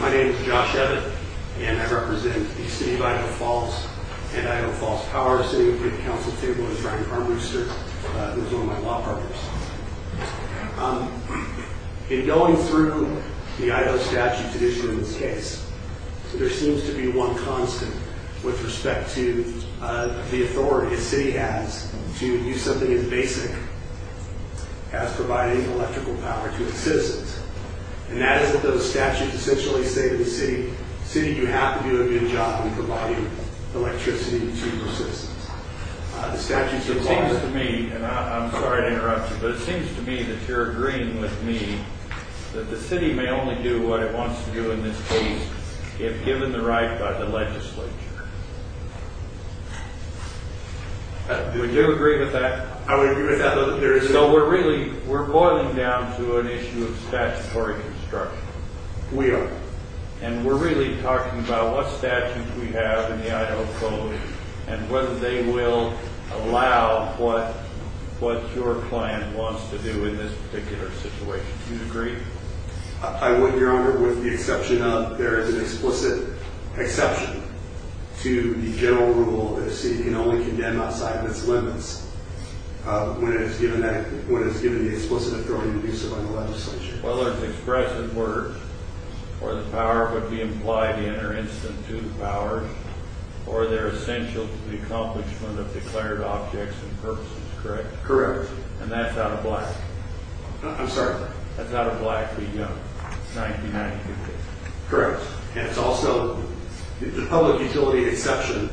My name is Josh Ebbitt and I represent the City of Idaho Falls and Idaho Falls Powers. I'm sitting in front of the Council Table in front of Ryan Farm Rooster, who is one of my law partners. In going through the Idaho statute tradition in this case, there seems to be one constant with respect to the authority a city has to do something as basic as providing electrical power to its citizens. And that is what those statutes essentially say to the city. The city, you have to do a good job in providing electricity to your citizens. The statutes of law... It seems to me, and I'm sorry to interrupt you, but it seems to me that you're agreeing with me that the city may only do what it wants to do in this case if given the right by the legislature. Would you agree with that? I would agree with that. So we're really, we're boiling down to an issue of statutory construction. We are. And we're really talking about what statutes we have in the Idaho Code and whether they will allow what your plan wants to do in this particular situation. Do you agree? I would, Your Honor, with the exception of there is an explicit exception to the general rule that a city can only condemn outside of its limits when it is given that, when it is given the explicit authority to do so by the legislature. Whether it's expressed in words or the power would be implied in or instant to the powers or they're essential to the accomplishment of declared objects and purposes, correct? Correct. And that's out of black? I'm sorry? That's out of black. We know. It's 1992. Correct. And it's also, the public utility exception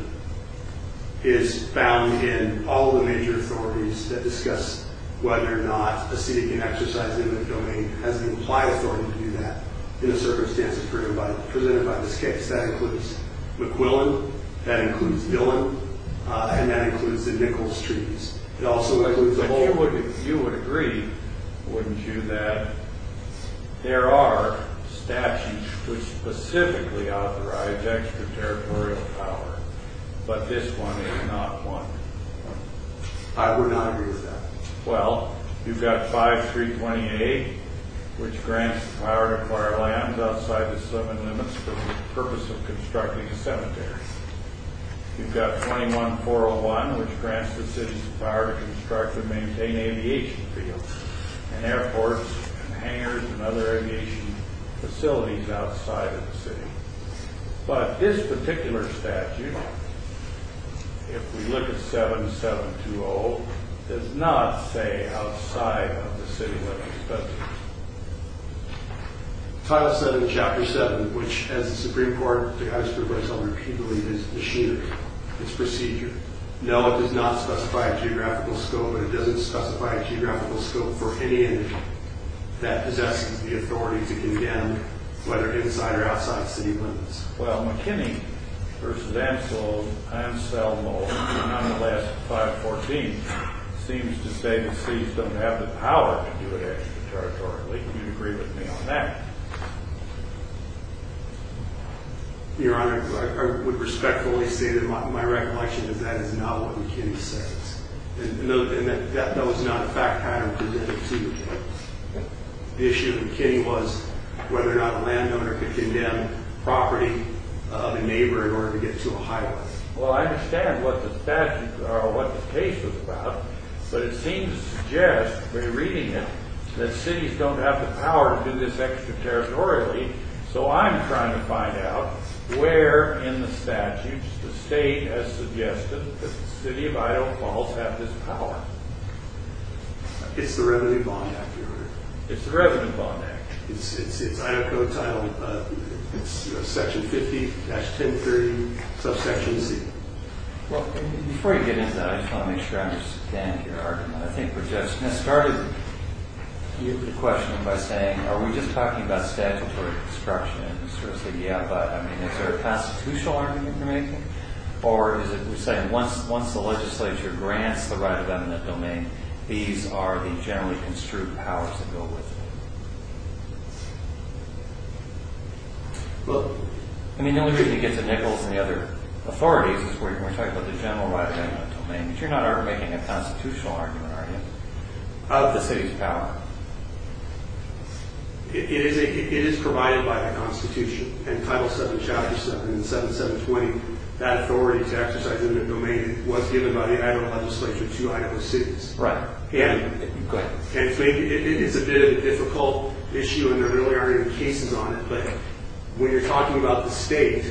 is found in all the major authorities that discuss whether or not a city can exercise in the domain has an implied authority to do that in the circumstances presented by this case. That includes McQuillan, that includes Dillon, and that includes the Nichols Treaties. You would agree, wouldn't you, that there are statutes which specifically authorize extraterritorial power, but this one is not one. I would not agree with that. Well, you've got 5328, which grants the power to acquire land outside the seven limits for the purpose of constructing a cemetery. You've got 21401, which grants the city's power to construct and maintain aviation fields and airports and hangars and other aviation facilities outside of the city. But this particular statute, if we look at 7720, does not say outside of the city limits. Title VII, Chapter 7, which, as the Supreme Court has provided so repeatedly, is machinery. It's procedure. No, it does not specify a geographical scope, and it doesn't specify a geographical scope for any entity that possesses the authority to condemn whether inside or outside city limits. Well, McKinney v. Anselm, Anselmo, in the last 514, seems to state that cities don't have the power to do it extraterritorially. Do you agree with me on that? Your Honor, I would respectfully say that my recollection is that is not what McKinney says. And that was not a fact pattern to the procedure case. The issue of McKinney was whether or not a landowner could condemn property of a neighbor in order to get to a high-rise. Well, I understand what the statute or what the case was about, but it seems to suggest when you're reading it that cities don't have the power to do this extraterritorially. So I'm trying to find out where in the statute the state has suggested that the city of Idaho Falls have this power. It's the Revenue Bond Act, Your Honor. It's the Revenue Bond Act. It's Idaho Code Title, Section 50-1030, Subsection C. Well, before you get into that, I just want to make sure I understand your argument. I think Regent Smith started the questioning by saying, are we just talking about statutory construction? And he sort of said, yeah, but I mean, is there a constitutional argument you're making? Or is it saying once the legislature grants the right of eminent domain, these are the generally construed powers that go with it? Well, I mean, the only reason you get to Nichols and the other authorities is when we're talking about the general right of eminent domain. You're not making a constitutional argument, are you, of the city's power? It is provided by the Constitution. And Title VII, Chapter 7 and 7, 720, that authority to exercise eminent domain was given by the Idaho legislature to Idaho cities. Right. Go ahead. It is a bit of a difficult issue, and there really aren't any cases on it. But when you're talking about the state,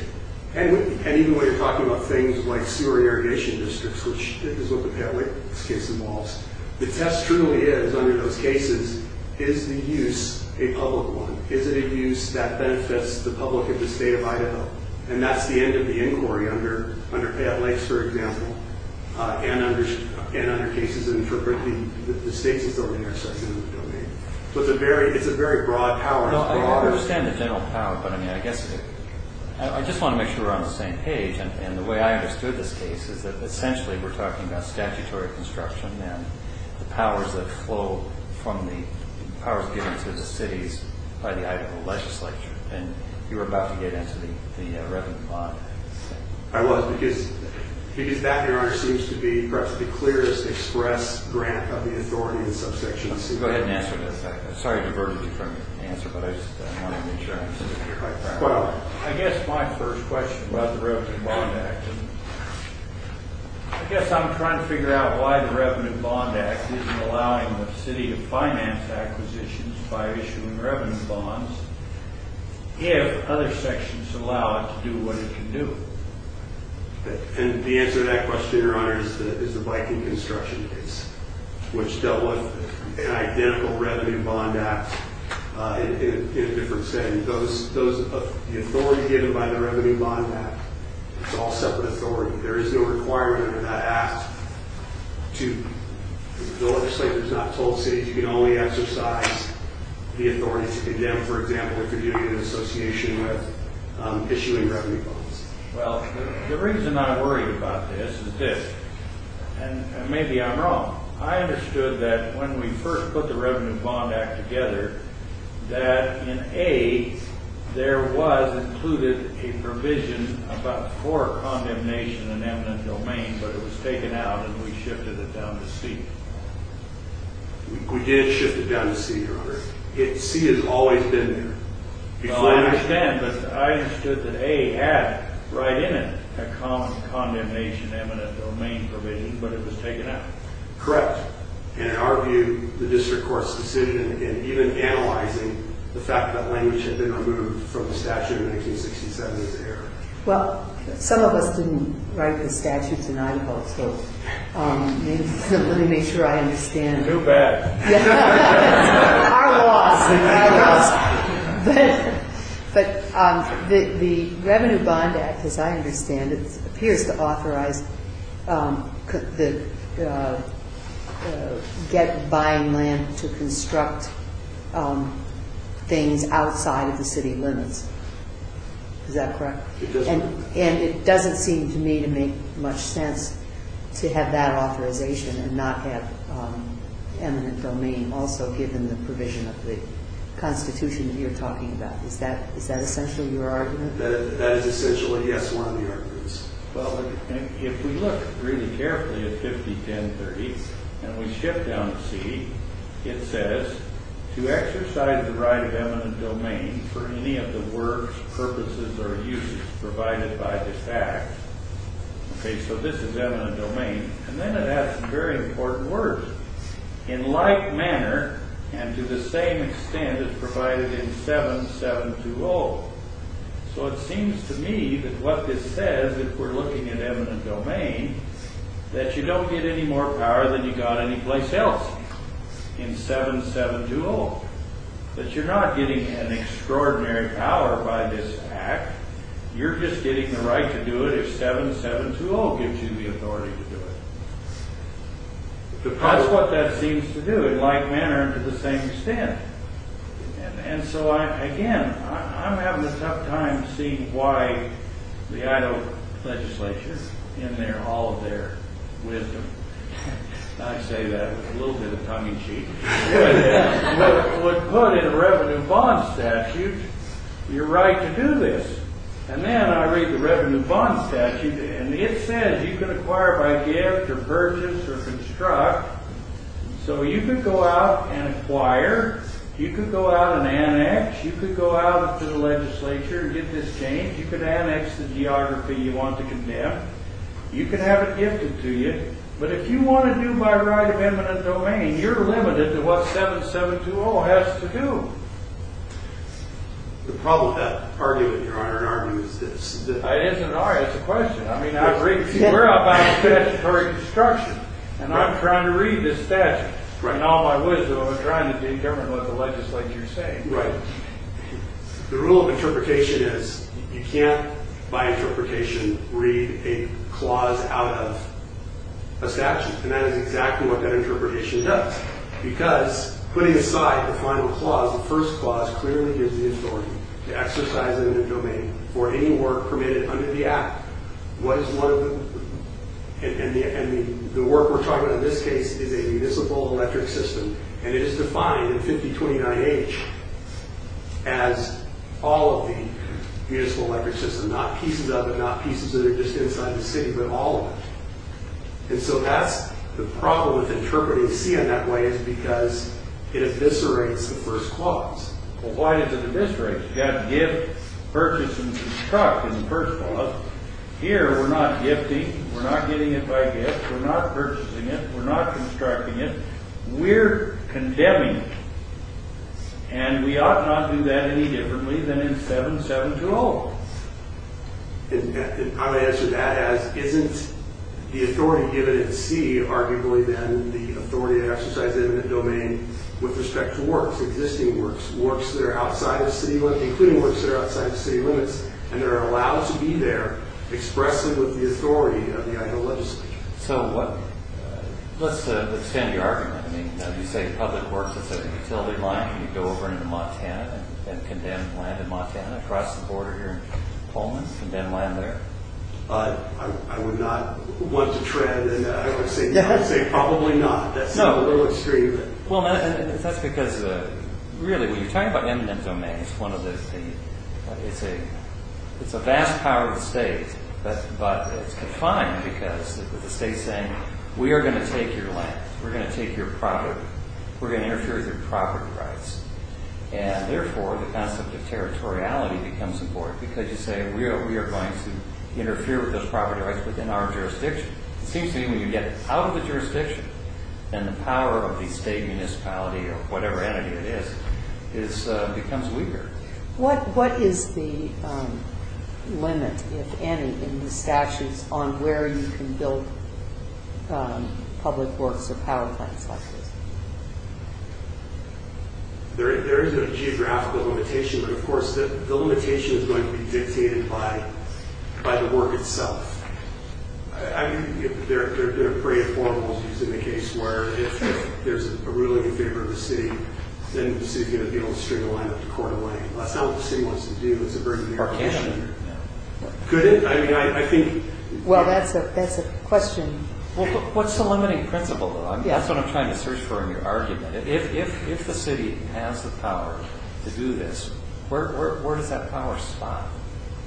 and even when you're talking about things like sewer and irrigation districts, which is what the Pat Lakes case involves, the test truly is, under those cases, is the use a public one? Is it a use that benefits the public of the state of Idaho? And that's the end of the inquiry under Pat Lakes, for example, and under cases interpreting the state's ability to exercise eminent domain. So it's a very broad power. I understand the general power, but I mean, I guess I just want to make sure we're on the same page. And the way I understood this case is that essentially we're talking about statutory construction and the powers that flow from the powers given to the cities by the Idaho legislature. And you were about to get into the revenue bond. I was, because that, Your Honor, seems to be perhaps the clearest express grant of the authority in some sections. Go ahead and answer this. Sorry I diverted you from your answer, but I just wanted to make sure I understood it. I guess my first question about the Revenue Bond Act, I guess I'm trying to figure out why the Revenue Bond Act isn't allowing the city to finance acquisitions by issuing revenue bonds if other sections allow it to do what it can do. And the answer to that question, Your Honor, is the Viking construction case, which dealt with an identical Revenue Bond Act in a different setting. And the authority given by the Revenue Bond Act, it's all separate authority. There is no requirement in that act to, the legislature's not told cities, you can only exercise the authority to condemn, for example, if you're doing an association with issuing revenue bonds. Well, the reason I worry about this is this, and maybe I'm wrong. I understood that when we first put the Revenue Bond Act together, that in A, there was included a provision about poor condemnation and eminent domain, but it was taken out and we shifted it down to C. We did shift it down to C, Your Honor. C has always been there. No, I understand, but I understood that A had right in it a common condemnation eminent domain provision, but it was taken out. Correct. And in our view, the district court's decision in even analyzing the fact that language had been removed from the statute in 1967 is error. Well, some of us didn't write the statutes in Idaho, so let me make sure I understand. Too bad. Our loss. But the Revenue Bond Act, as I understand it, appears to authorize buying land to construct things outside of the city limits. Is that correct? It does. And it doesn't seem to me to make much sense to have that authorization and not have eminent domain also given the provision of the Constitution that you're talking about. Is that essentially your argument? That is essentially, yes, one of the arguments. Well, if we look really carefully at 501030 and we shift down to C, it says, to exercise the right of eminent domain for any of the works, purposes, or uses provided by the fact. Okay, so this is eminent domain. And then it adds some very important words. In like manner and to the same extent as provided in 7720. So it seems to me that what this says, if we're looking at eminent domain, that you don't get any more power than you got any place else in 7720. That you're not getting an extraordinary power by this act, you're just getting the right to do it if 7720 gives you the authority to do it. That's what that seems to do, in like manner and to the same extent. And so, again, I'm having a tough time seeing why the Idaho legislation is in there, all of their wisdom. I say that with a little bit of tongue-in-cheek. But put in a revenue bond statute, you're right to do this. And then I read the revenue bond statute and it says you can acquire by gift, or purchase, or construct. So you can go out and acquire, you can go out and annex, you can go out to the legislature and get this changed, you can annex the geography you want to condemn, you can have it gifted to you. But if you want to do by right of eminent domain, you're limited to what 7720 has to do. The problem with that argument, Your Honor, in our view, is that... It isn't our, it's a question. I mean, we're out buying statutory construction, and I'm trying to read this statute. And all my wisdom, I'm trying to determine what the legislature is saying. Right. The rule of interpretation is, you can't, by interpretation, read a clause out of a statute. And that is exactly what that interpretation does. Because, putting aside the final clause, the first clause clearly gives the authority to exercise it in a domain for any work permitted under the Act. And the work we're talking about in this case is a municipal electric system. And it is defined in 5029H as all of the municipal electric system, not pieces of it, not pieces that are just inside the city, but all of it. And so that's the problem with interpreting C in that way, is because it eviscerates the first clause. Well, why does it eviscerate? You have gift, purchase, and construct in the first clause. Here, we're not gifting, we're not getting it by gift, we're not purchasing it, we're not constructing it. We're condemning. And we ought not do that any differently than in 7-7-0. I'm going to answer that as, isn't the authority given in C arguably then the authority to exercise it in a domain with respect to works, existing works, works that are outside the city limits, including works that are outside the city limits, and are allowed to be there, expressive of the authority of the Idaho legislature. So, let's extend your argument. I mean, you say public works is a utility line, and you go over into Montana and condemn land in Montana, across the border here in Poland, condemn land there. I would not want to tread, and I would say probably not. That's a little extreme. Well, that's because, really, when you're talking about eminent domains, one of the, it's a vast power of the state, but it's confined because the state's saying, we are going to take your land. We're going to take your property. We're going to interfere with your property rights. And, therefore, the concept of territoriality becomes important because you say we are going to interfere with those property rights within our jurisdiction. It seems to me when you get out of the jurisdiction, then the power of the state municipality, or whatever entity it is, becomes weaker. What is the limit, if any, in the statutes on where you can build public works or power plants like this? There is a geographical limitation, but, of course, the limitation is going to be dictated by the work itself. I mean, there have been a parade of formalities in the case where if there's a ruling in favor of the city, then the city's going to be able to string a line up the court of land. That's not what the city wants to do. It's a burden on the legislature. Could it? I mean, I think... Well, that's a question... What's the limiting principle, though? That's what I'm trying to search for in your argument. If the city has the power to do this, where does that power stop,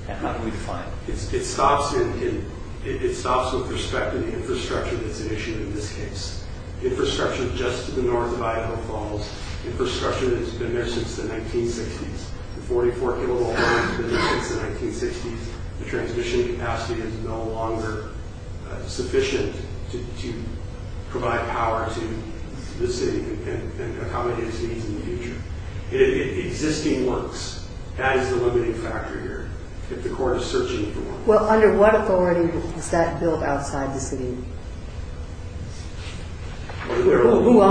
and how do we define it? It stops with respect to the infrastructure that's at issue in this case. Infrastructure just to the north of Idaho Falls. Infrastructure that's been there since the 1960s. The 44-kilowatt power that's been there since the 1960s. The transmission capacity is no longer sufficient to provide power to the city and accommodate its needs in the future. Existing works, that is the limiting factor here, if the court is searching for one. Well, under what authority does that build outside the city? Who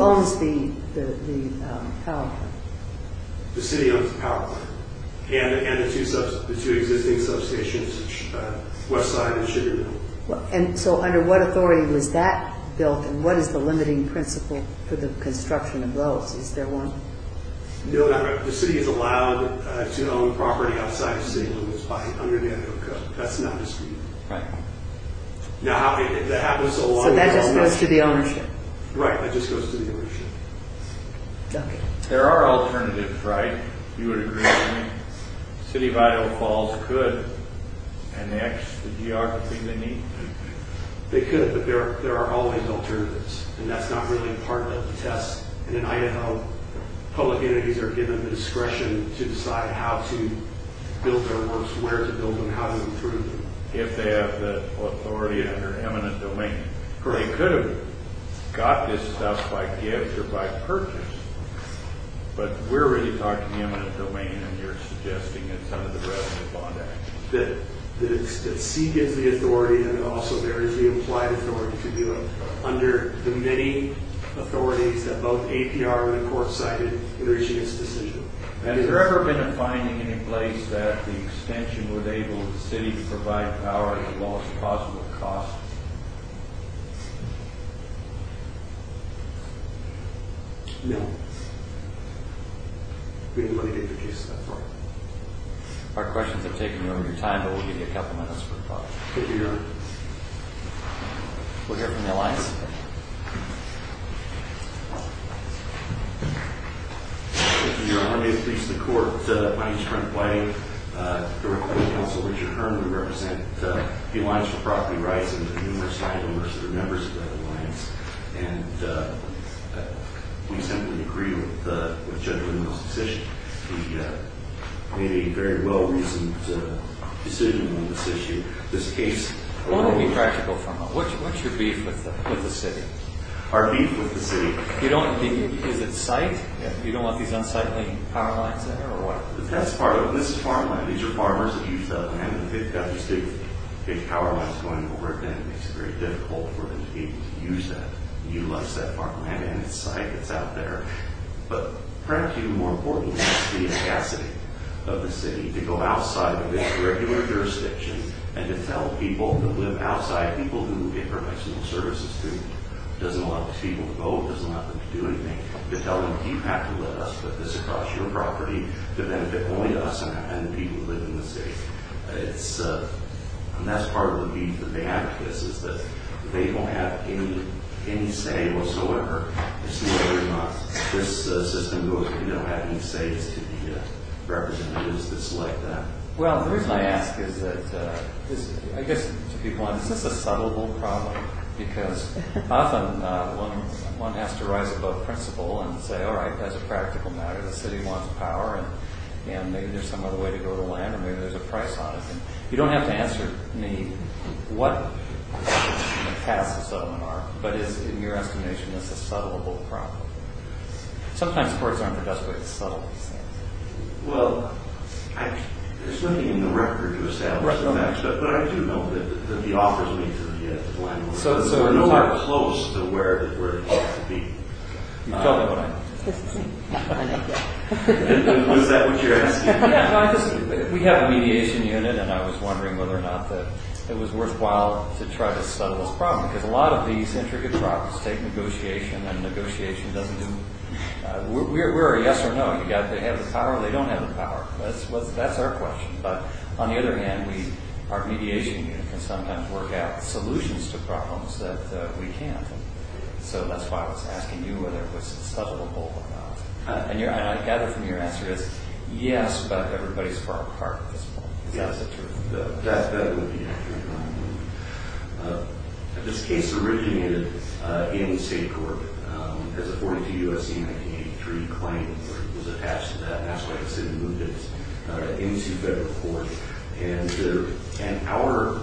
owns the power plant? The city owns the power plant and the two existing substations, Westside and Sugar Mill. And so under what authority was that built, and what is the limiting principle for the construction of those? Is there one? No, the city is allowed to own property outside the city limits under the Idaho Code. That's not discrete. Right. So that just goes to the ownership? Right, that just goes to the ownership. Okay. There are alternatives, right? You would agree with me? City of Idaho Falls could, and the geography they need. They could, but there are always alternatives, and that's not really part of the test. And in Idaho, public entities are given the discretion to decide how to build their works, where to build them, how to improve them. If they have the authority under eminent domain. They could have got this stuff by gift or by purchase, but we're really talking eminent domain, and you're suggesting it's under the Revenue Bond Act. That C gives the authority, and also there is the implied authority to do it under the many authorities that both APR and the court cited in reaching its decision. Has there ever been a finding in any place that the extension would enable the city to provide power at the lowest possible cost? No. We wouldn't introduce that for you. Our questions have taken longer time, but we'll give you a couple minutes for questions. Thank you, Your Honor. We'll hear from the alliance. Thank you, Your Honor. Your Honor, may it please the Court, my name is Frank White. Director of the Counsel, Richard Herman, we represent the Alliance for Property Rights and the numerous family members that are members of that alliance. And we simply agree with Judge O'Donnell's decision. He made a very well-reasoned decision on this issue. This case... What would be practical for him? What's your beef with the city? Our beef with the city? Is it site? You don't want these unsightly power lines there, or what? That's part of it. This is farmland. These are farmers that use that land. They've got the state power lines going over it, and it makes it very difficult for them to be able to use that. You lost that farmland and its site that's out there. But perhaps even more importantly, it's the scarcity of the city to go outside of its regular jurisdiction and to tell people who live outside, people who get professional services, who doesn't allow these people to vote, doesn't allow them to do anything, to tell them, you have to let us put this across your property to benefit only us and the people who live in the city. And that's part of the beef that they have with this, is that they don't have any say whatsoever as to whether or not this system goes, we don't have any say as to the representatives that select them. Well, the reason I ask is that, I guess, to be blunt, this is a subable problem, because often one has to rise above principle and say, all right, as a practical matter, the city wants power, and maybe there's some other way to go to land, or maybe there's a price on it. You don't have to answer me what the paths of settlement are, but is, in your estimation, this a subable problem? Sometimes courts aren't the best way to settle these things. Well, there's nothing in the record to assess that, but I do know that the offers made to the landowners were nowhere close to where it ought to be. You've told me what I know. This is not my idea. Is that what you're asking? We have a mediation unit, and I was wondering whether or not that it was worthwhile to try to settle this problem, because a lot of these intricate problems take negotiation, and negotiation doesn't do... We're a yes or no. They have the power or they don't have the power. That's our question. But on the other hand, our mediation unit can sometimes work out solutions to problems that we can't, so that's why I was asking you whether it was subable or not. And I gather from your answer is yes, but everybody's far apart at this point. Yes, that's right. That would be accurate. This case originated in state court as a 42 U.S.C. 1983 claim was attached to that, and that's why the city moved it into federal court. And our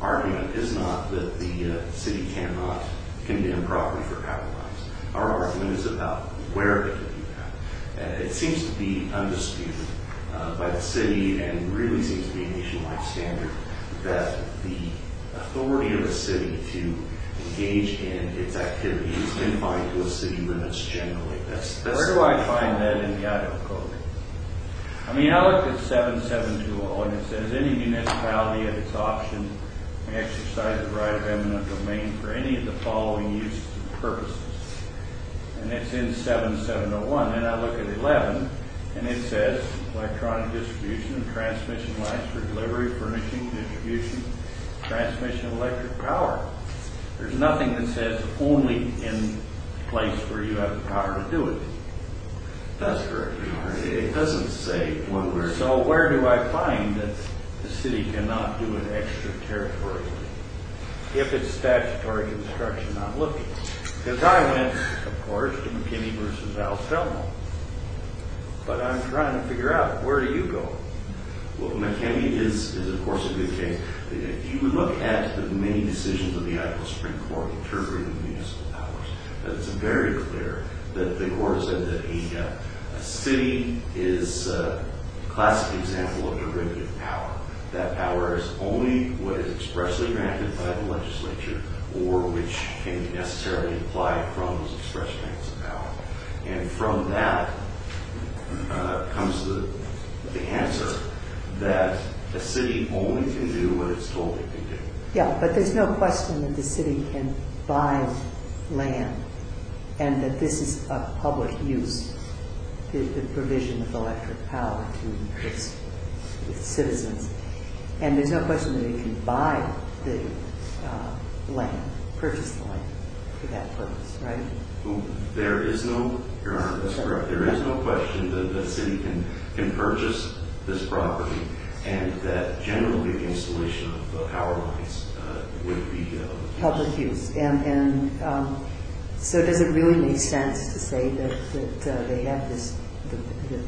argument is not that the city cannot condemn property for capitalizing. Our argument is about where they can do that. It seems to be undisputed by the city and really seems to be a nationwide standard that the authority of a city to engage in its activities is confined to a city limits generally. Where do I find that in the Idaho Code? I mean, I looked at 7720, and it says any municipality at its option may exercise the right of eminent domain for any of the following uses and purposes. And it's in 7701. And I look at 11, and it says electronic distribution, transmission lines for delivery, furnishing, distribution, transmission of electric power. There's nothing that says it's only in place where you have the power to do it. That's correct, Your Honor. It doesn't say one way or the other. So where do I find that the city cannot do it extraterritorially if it's statutory construction I'm looking at? Because I went, of course, to McKinney v. Al Thelma. But I'm trying to figure out where do you go? Well, McKinney is, of course, a good case. If you look at the many decisions of the Idaho Supreme Court interpreting municipal powers, it's very clear that the Court has said that a city is a classic example of derivative power. That power is only what is expressly granted by the legislature or which can necessarily apply from those express grants of power. And from that comes the answer that a city only can do what it's told it can do. Yeah, but there's no question that the city can buy land and that this is a public use, the provision of electric power to increase its citizens. And there's no question that it can buy the land, purchase the land for that purpose, right? There is no... Your Honor, that's correct. There is no question that the city can purchase this property and that generally the installation of the power lines would be public use. And so does it really make sense to say that they have this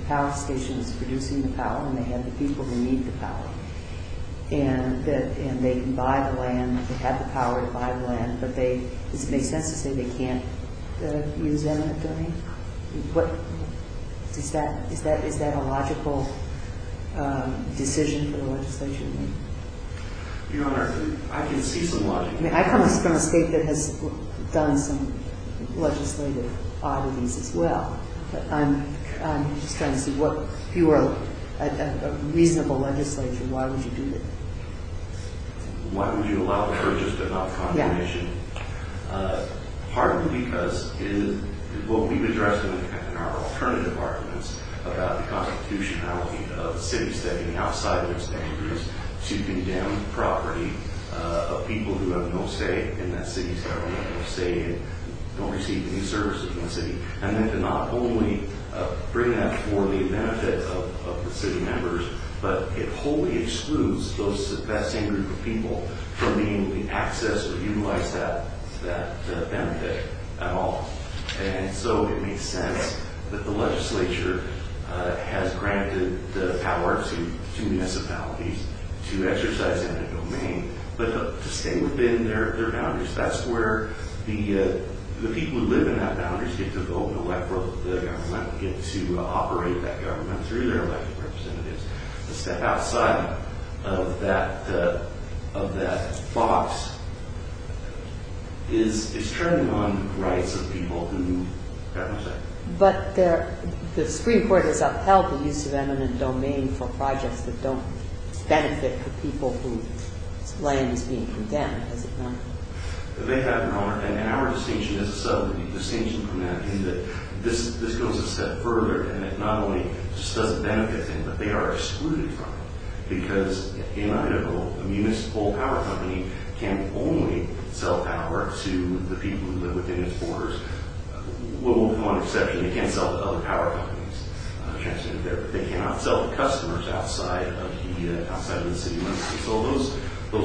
power station that's producing the power and they have the people who need the power and they can buy the land, they have the power to buy the land, but does it make sense to say they can't use eminent domain? Is that a logical decision for the legislature? Your Honor, I can see some logic. I come from a state that has done some legislative audits as well, but I'm just trying to see what... If you were a reasonable legislature, why would you do that? Why would you allow the purchase but not the confirmation? Partly because what we've addressed in our alternative arguments about the constitutionality of the city stepping outside of its boundaries to condemn property of people who have no say in that city's government, no say and don't receive any services in that city. And then to not only bring that for the benefit of the city members, but it wholly excludes that same group of people from being able to access or utilize that benefit at all. And so it makes sense that the legislature has granted the power to municipalities to exercise eminent domain, but to stay within their boundaries. That's where the people who live in that boundaries get to vote and elect the government, get to operate that government through their elected representatives. The step outside of that box is turning on rights of people who have no say. But the Supreme Court has upheld the use of eminent domain for projects that don't benefit the people whose land is being condemned, has it not? They have not. And our distinction is a subtle distinction from that in that this goes a step further and it not only just doesn't benefit them, but they are excluded from it. Because in Idaho, a municipal power company can only sell power to the people who live within its borders. With one exception, it can't sell to other power companies. They cannot sell to customers outside of the city limits. So those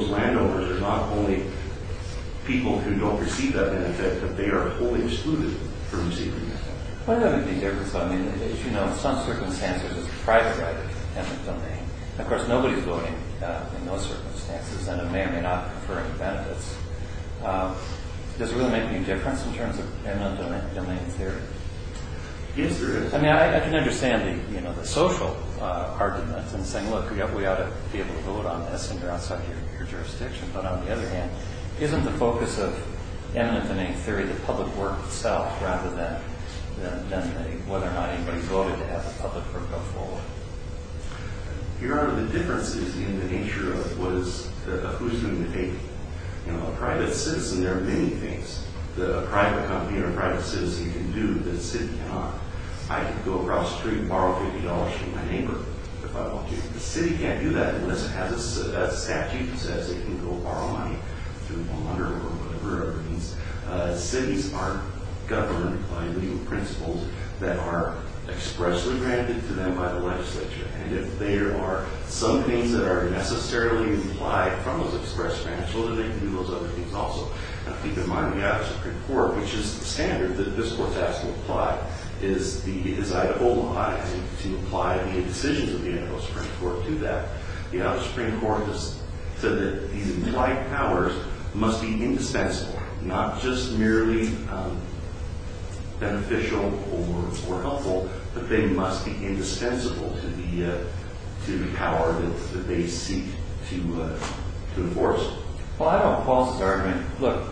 landowners are not only people who don't receive that benefit, but they are wholly excluded from receiving that benefit. What does that mean there? Because as you know, in some circumstances, it's a private right of eminent domain. Of course, nobody's voting in those circumstances, and it may or may not confer any benefits. Does it really make any difference in terms of eminent domain theory? I mean, I can understand the social argument and saying, look, we ought to be able to vote on this and you're outside your jurisdiction. But on the other hand, isn't the focus of eminent domain theory the public work itself rather than whether or not anybody voted to have the public work go forward? Here are the differences in the nature of who's going to take it. You know, a private citizen, there are many things that a private company or a private citizen can do that a city cannot. I can go across the street and borrow $50 from my neighbor if I want to. The city can't do that unless it has a statute that says it can go borrow money through a monitor or whatever it means. Cities aren't governed by legal principles that are expressly granted to them by the legislature. And if there are some things that are necessarily implied from those expressed principles, then they can do those other things also. Now, keep in mind, we have a Supreme Court, which is the standard that this Court has to apply, is I hold my eyes to apply the indecisions of the Idaho Supreme Court to that. The Idaho Supreme Court has said that these implied powers must be indispensable, not just merely beneficial or helpful, but they must be indispensable to the power that they seek to enforce. Well, I know Paul's argument. Look,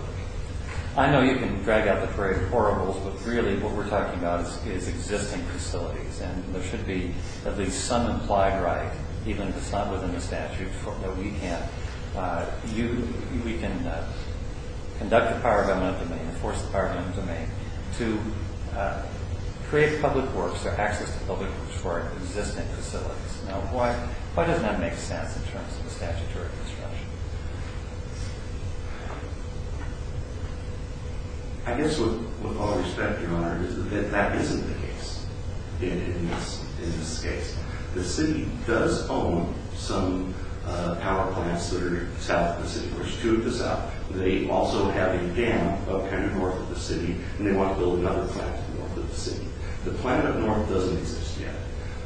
I know you can drag out the phrase horribles, but really what we're talking about is existing facilities, and there should be at least some implied right, even if it's not within the statute, that we have. We can conduct the power of government of the domain, enforce the power of government of the domain, to create public works or access to public works for existing facilities. Now, why doesn't that make sense in terms of the statutory construction? I guess with all respect, Your Honor, that that isn't the case in this case. The city does own some power plants that are south of the city. There's two of the south. They also have a dam up kind of north of the city, and they want to build another plant north of the city. The plant up north doesn't exist yet.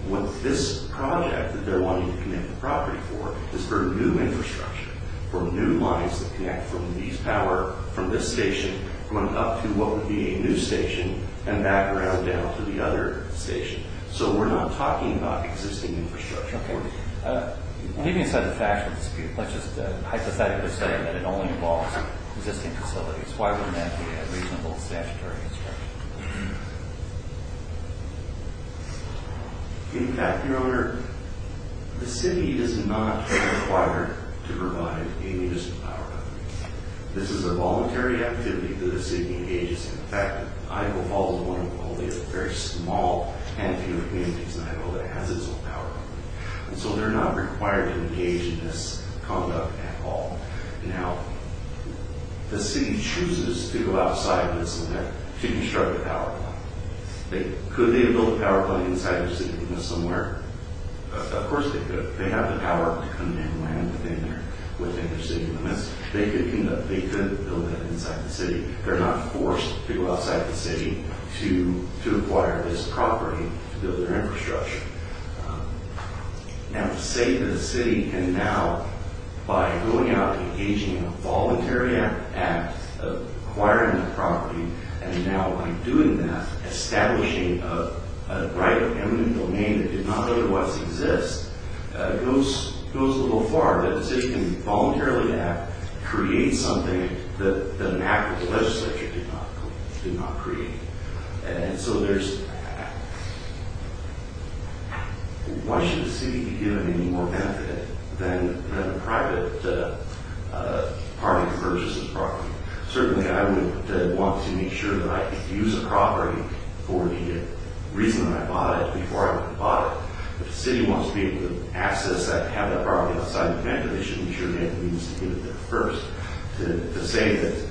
What this project that they're wanting to connect the property for is for new infrastructure, for new lines that connect from these power, from this station up to what would be a new station, and back around down to the other station. So we're not talking about existing infrastructure. Okay. Leaving aside the factual dispute, let's just hypothetically say that it only involves existing facilities. Why wouldn't that be a reasonable statutory instruction? In fact, Your Honor, the city does not require to provide a municipal power of government. This is a voluntary activity that the city engages in. In fact, Iowa Falls is one of only a very small and few communities in Iowa that has its own power of government. And so they're not required to engage in this conduct at all. Now, the city chooses to go outside of this and to construct a power plant. Could they build a power plant inside their city, somewhere? Of course they could. They have the power to come and land within their city. They could build that inside the city. They're not forced to go outside the city to acquire this property to build their infrastructure. Now, the state and the city can now, by going out and engaging in a voluntary act of acquiring the property, and now by doing that, establishing a right of eminent domain that did not otherwise exist, goes a little far. The city can voluntarily act, create something that an act of the legislature did not create. And so there's... Why should the city be given any more benefit than a private party to purchase this property? Certainly, I would want to make sure that I use the property for the reason that I bought it before I bought it. If the city wants to be able to access that, have that property outside the plant, then they should ensure they have the means to get it there first. To say that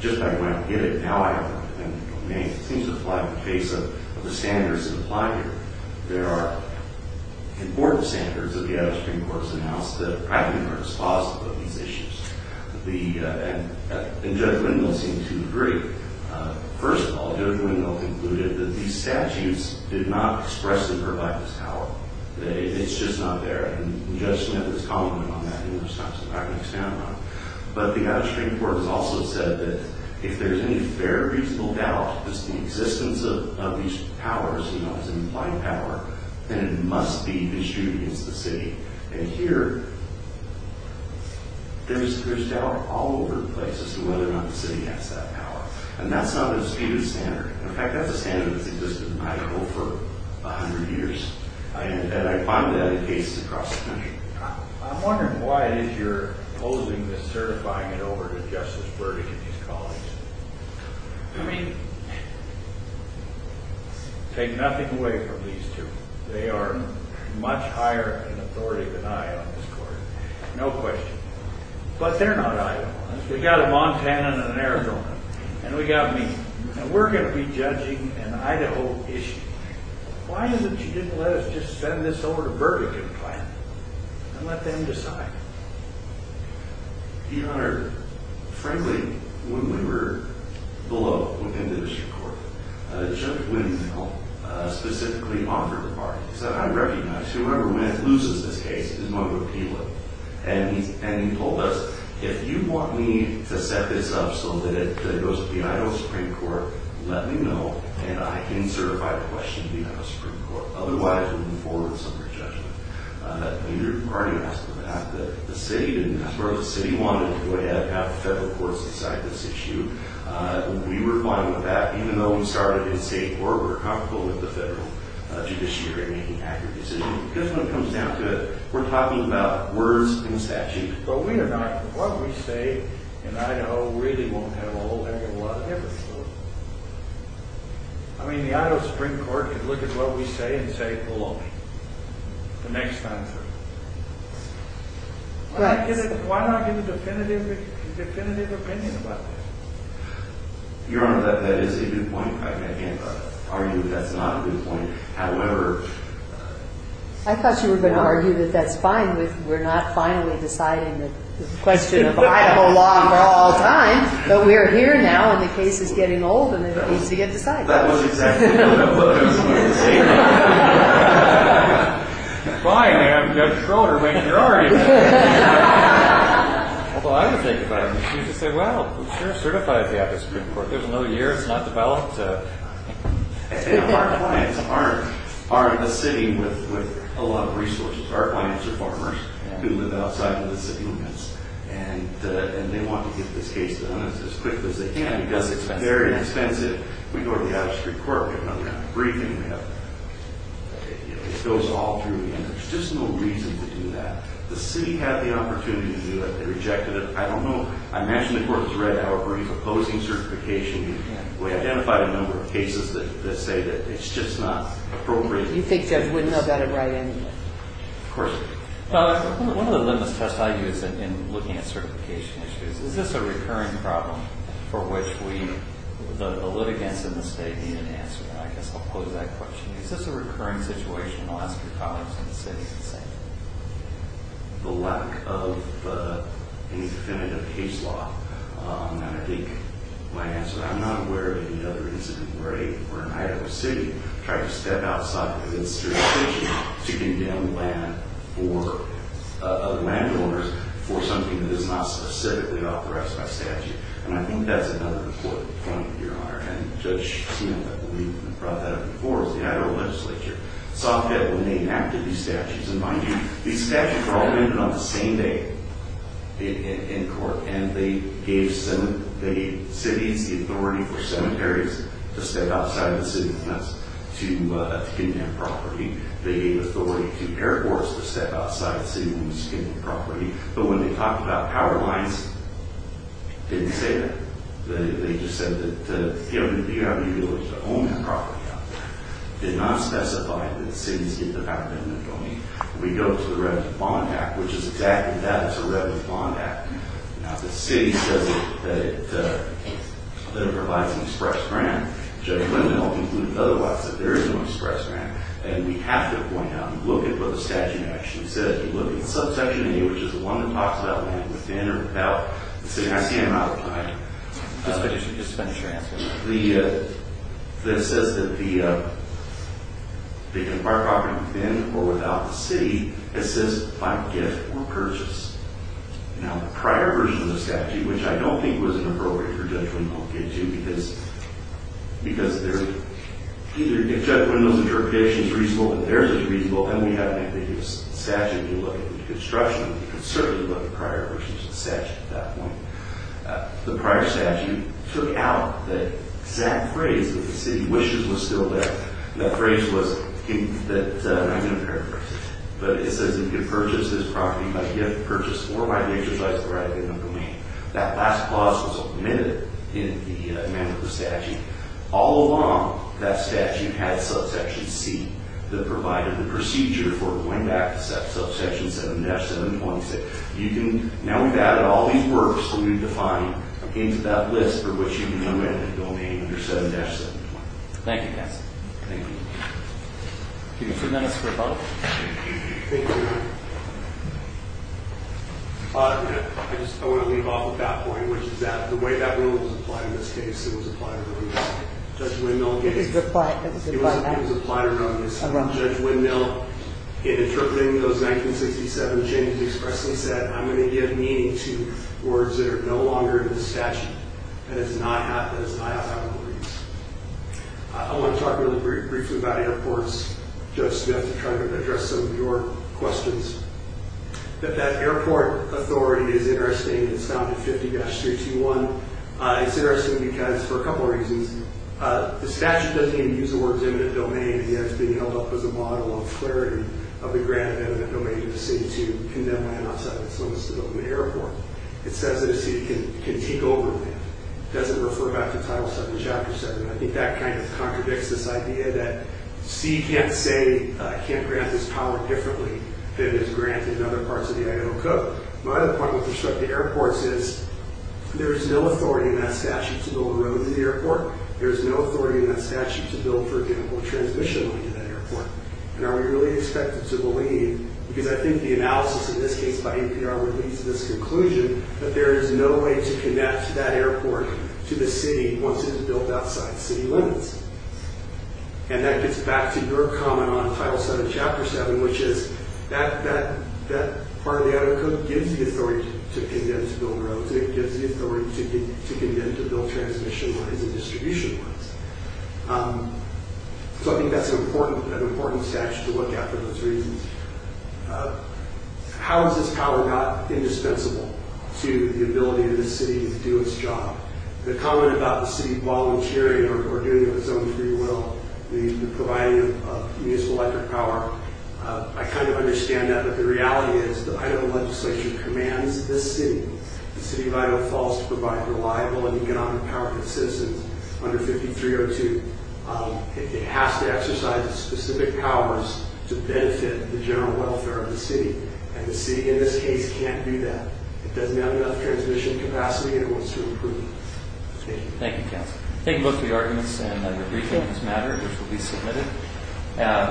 just by going out and getting a power plant in the domain seems to fly in the face of the standards that apply here. There are important standards that the out-of-state courts announced that practically are dispositive of these issues. And Judge Wendell seemed to agree. First of all, Judge Wendell concluded that these statutes did not expressly provide this power. It's just not there. And Judge Smith is complementing on that, and there's not something I can expand on. But the out-of-state court has also said that if there's any fair, reasonable doubt that the existence of these powers is an implied power, then it must be issued against the city. And here, there's doubt all over the place as to whether or not the city has that power. And that's not a disputed standard. In fact, that's a standard that's existed in Idaho for 100 years. And I find that in cases across the country. I'm wondering why it is you're opposing this, certifying it over to Justice Burdick and his colleagues. I mean, take nothing away from these two. They are much higher in authority than I am in this court. No question. But they're not eyeing on us. We've got a Montana and an Arizona, and we've got me. And we're going to be judging an Idaho issue. Why is it you didn't let us just send this over to Burdick and plan it and let them decide it? Your Honor, frankly, when we were below within the district court, Judge Windmill specifically offered the party. He said, I recognize whoever loses this case is going to repeal it. And he told us, if you want me to set this up so that it goes to the Idaho Supreme Court, let me know, and I can certify the question to the Idaho Supreme Court. Otherwise, we'll move forward with some of your judgment. Your party asked for that. The city didn't ask for it. The city wanted to go ahead and have the federal courts decide this issue. We were fine with that, even though we started in state court. We're comfortable with the federal judiciary making accurate decisions. Because when it comes down to it, we're talking about words and statute. But we are not. What we say in Idaho really won't have a whole heck of a lot of difference. I mean, the Idaho Supreme Court could look at what we say and say, below me, the next time through. Why not give a definitive opinion about that? Your Honor, that is a good point. I can't argue that that's not a good point. However, I thought you were going to argue that that's fine if we're not finally deciding the question of the Idaho law for all time. But we are here now, and the case is getting old, and it's easy to decide. That was exactly what I was going to say. Fine. I'm Judge Schroeder. Where are you? Although, I would think about it. You could say, well, sure, certify it to the Idaho Supreme Court. There's another year. It's not developed. Our clients are in the city with a lot of resources. Our clients are farmers who live outside of the city limits, and they want to get this case done as quick as they can because it's very expensive. We go to the Idaho Supreme Court. We have another briefing. It goes all through. There's just no reason to do that. The city had the opportunity to do that. They rejected it. I don't know. I imagine the court has read our brief opposing certification. We identified a number of cases that say that it's just not appropriate. You think Judge Wooden got it right anyway? Of course. One of the limits tests I use in looking at certification issues, is this a recurring problem for which the litigants in the state need an answer? I guess I'll pose that question. Is this a recurring situation? I'll ask your colleagues in the city the same thing. The lack of any definitive case law. I think my answer, I'm not aware of any other incident where an Idaho city tried to step outside of its jurisdiction to condemn landowners for something that is not specifically authorized by statute. And I think that's another important point, Your Honor. And Judge Smith, I believe, brought that up before, was the Idaho legislature. Sophia was named after these statutes. And mind you, these statutes were all amended on the same day in court. And they gave cities the authority for cemeteries to step outside of the city limits to condemn property. They gave authority to airports to step outside the city limits to condemn property. But when they talked about power lines, they didn't say that. They just said that you have the ability to own that property out there. They did not specify that cities get the power to condemn property. We go to the Rev. Bond Act, which is exactly that. It's the Rev. Bond Act. Now, the city says that it provides an express grant. Judge Lindenholm concluded otherwise, that there is no express grant. And we have to point out and look at what the statute actually says. You look at subsection A, which is the one that talks about land within or without the city. And I see him out of time. Just to finish your answer. It says that they can acquire property within or without the city. It says by gift or purchase. Now, the prior version of the statute, which I don't think was inappropriate for Judge Lindenholm to get to, because if Judge Lindenholm's interpretation is reasonable, then theirs is reasonable, and we have an ambiguous statute to look at the construction, we can certainly look at prior versions of the statute at that point. The prior statute took out the exact phrase that the city wishes was still there. The phrase was, I'm going to paraphrase it, but it says that you can purchase this property by gift, purchase, or by an exercise provided in the domain. That last clause was omitted in the manner of the statute. All along, that statute had subsection C, that provided the procedure for going back to subsection 7-726. Now we've added all these works that we've defined into that list for which you can go in and domain under 7-726. Thank you, counsel. Thank you. I'll give you two minutes for a vote. Thank you. I want to leave off with that point, which is that the way that rule was applied in this case, it was applied around Judge Lindenholm's case. It was applied around his case. Judge Lindenholm, in interpreting those 1967 changes, expressly said, I'm going to give meaning to words that are no longer in the statute, that is not how it will be used. I want to talk really briefly about airports, Judge Smith, to try to address some of your questions. That airport authority is interesting. It's found in 50-321. It's interesting because, for a couple of reasons, the statute doesn't even use the words eminent domain. It ends up being held up as a model of clarity of the grand eminent domain of the city to condemn land outside of its limits to build an airport. It says that a city can take over land. It doesn't refer back to Title VII, Chapter VII. I think that kind of contradicts this idea that C can't say, can't grant this power differently than is granted in other parts of the Idaho Code. My other point with respect to airports is there is no authority in that statute to build roads at the airport. There is no authority in that statute to build, for example, transmission lines at that airport. Are we really expected to believe, because I think the analysis in this case by APR would lead to this conclusion, that there is no way to connect that airport to the city once it is built outside city limits. And that gets back to your comment on Title VII, Chapter VII, which is that part of the Idaho Code gives the authority to condemn to build roads. It gives the authority to condemn to build transmission lines and distribution lines. So I think that's an important statute to look at for those reasons. How has this power got indispensable to the ability of the city to do its job? The comment about the city volunteering or doing it with its own free will, the providing of municipal electric power, I kind of understand that. But the reality is that Idaho legislation commands this city, the city of Idaho, falls to provide reliable and economic power to its citizens under 5302. It has to exercise specific powers to benefit the general welfare of the city. And the city in this case can't do that. It doesn't have enough transmission capacity and it wants to improve it. Thank you. Thank you, counsel. Thank you both for your arguments and your briefings on this matter, which will be submitted.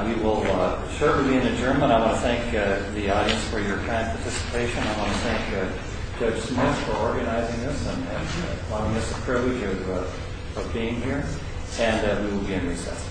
We will shortly be in adjournment. I want to thank the audience for your kind participation. I want to thank Judge Smith for organizing this and allowing us the privilege of being here. And we will be in recess. All rise.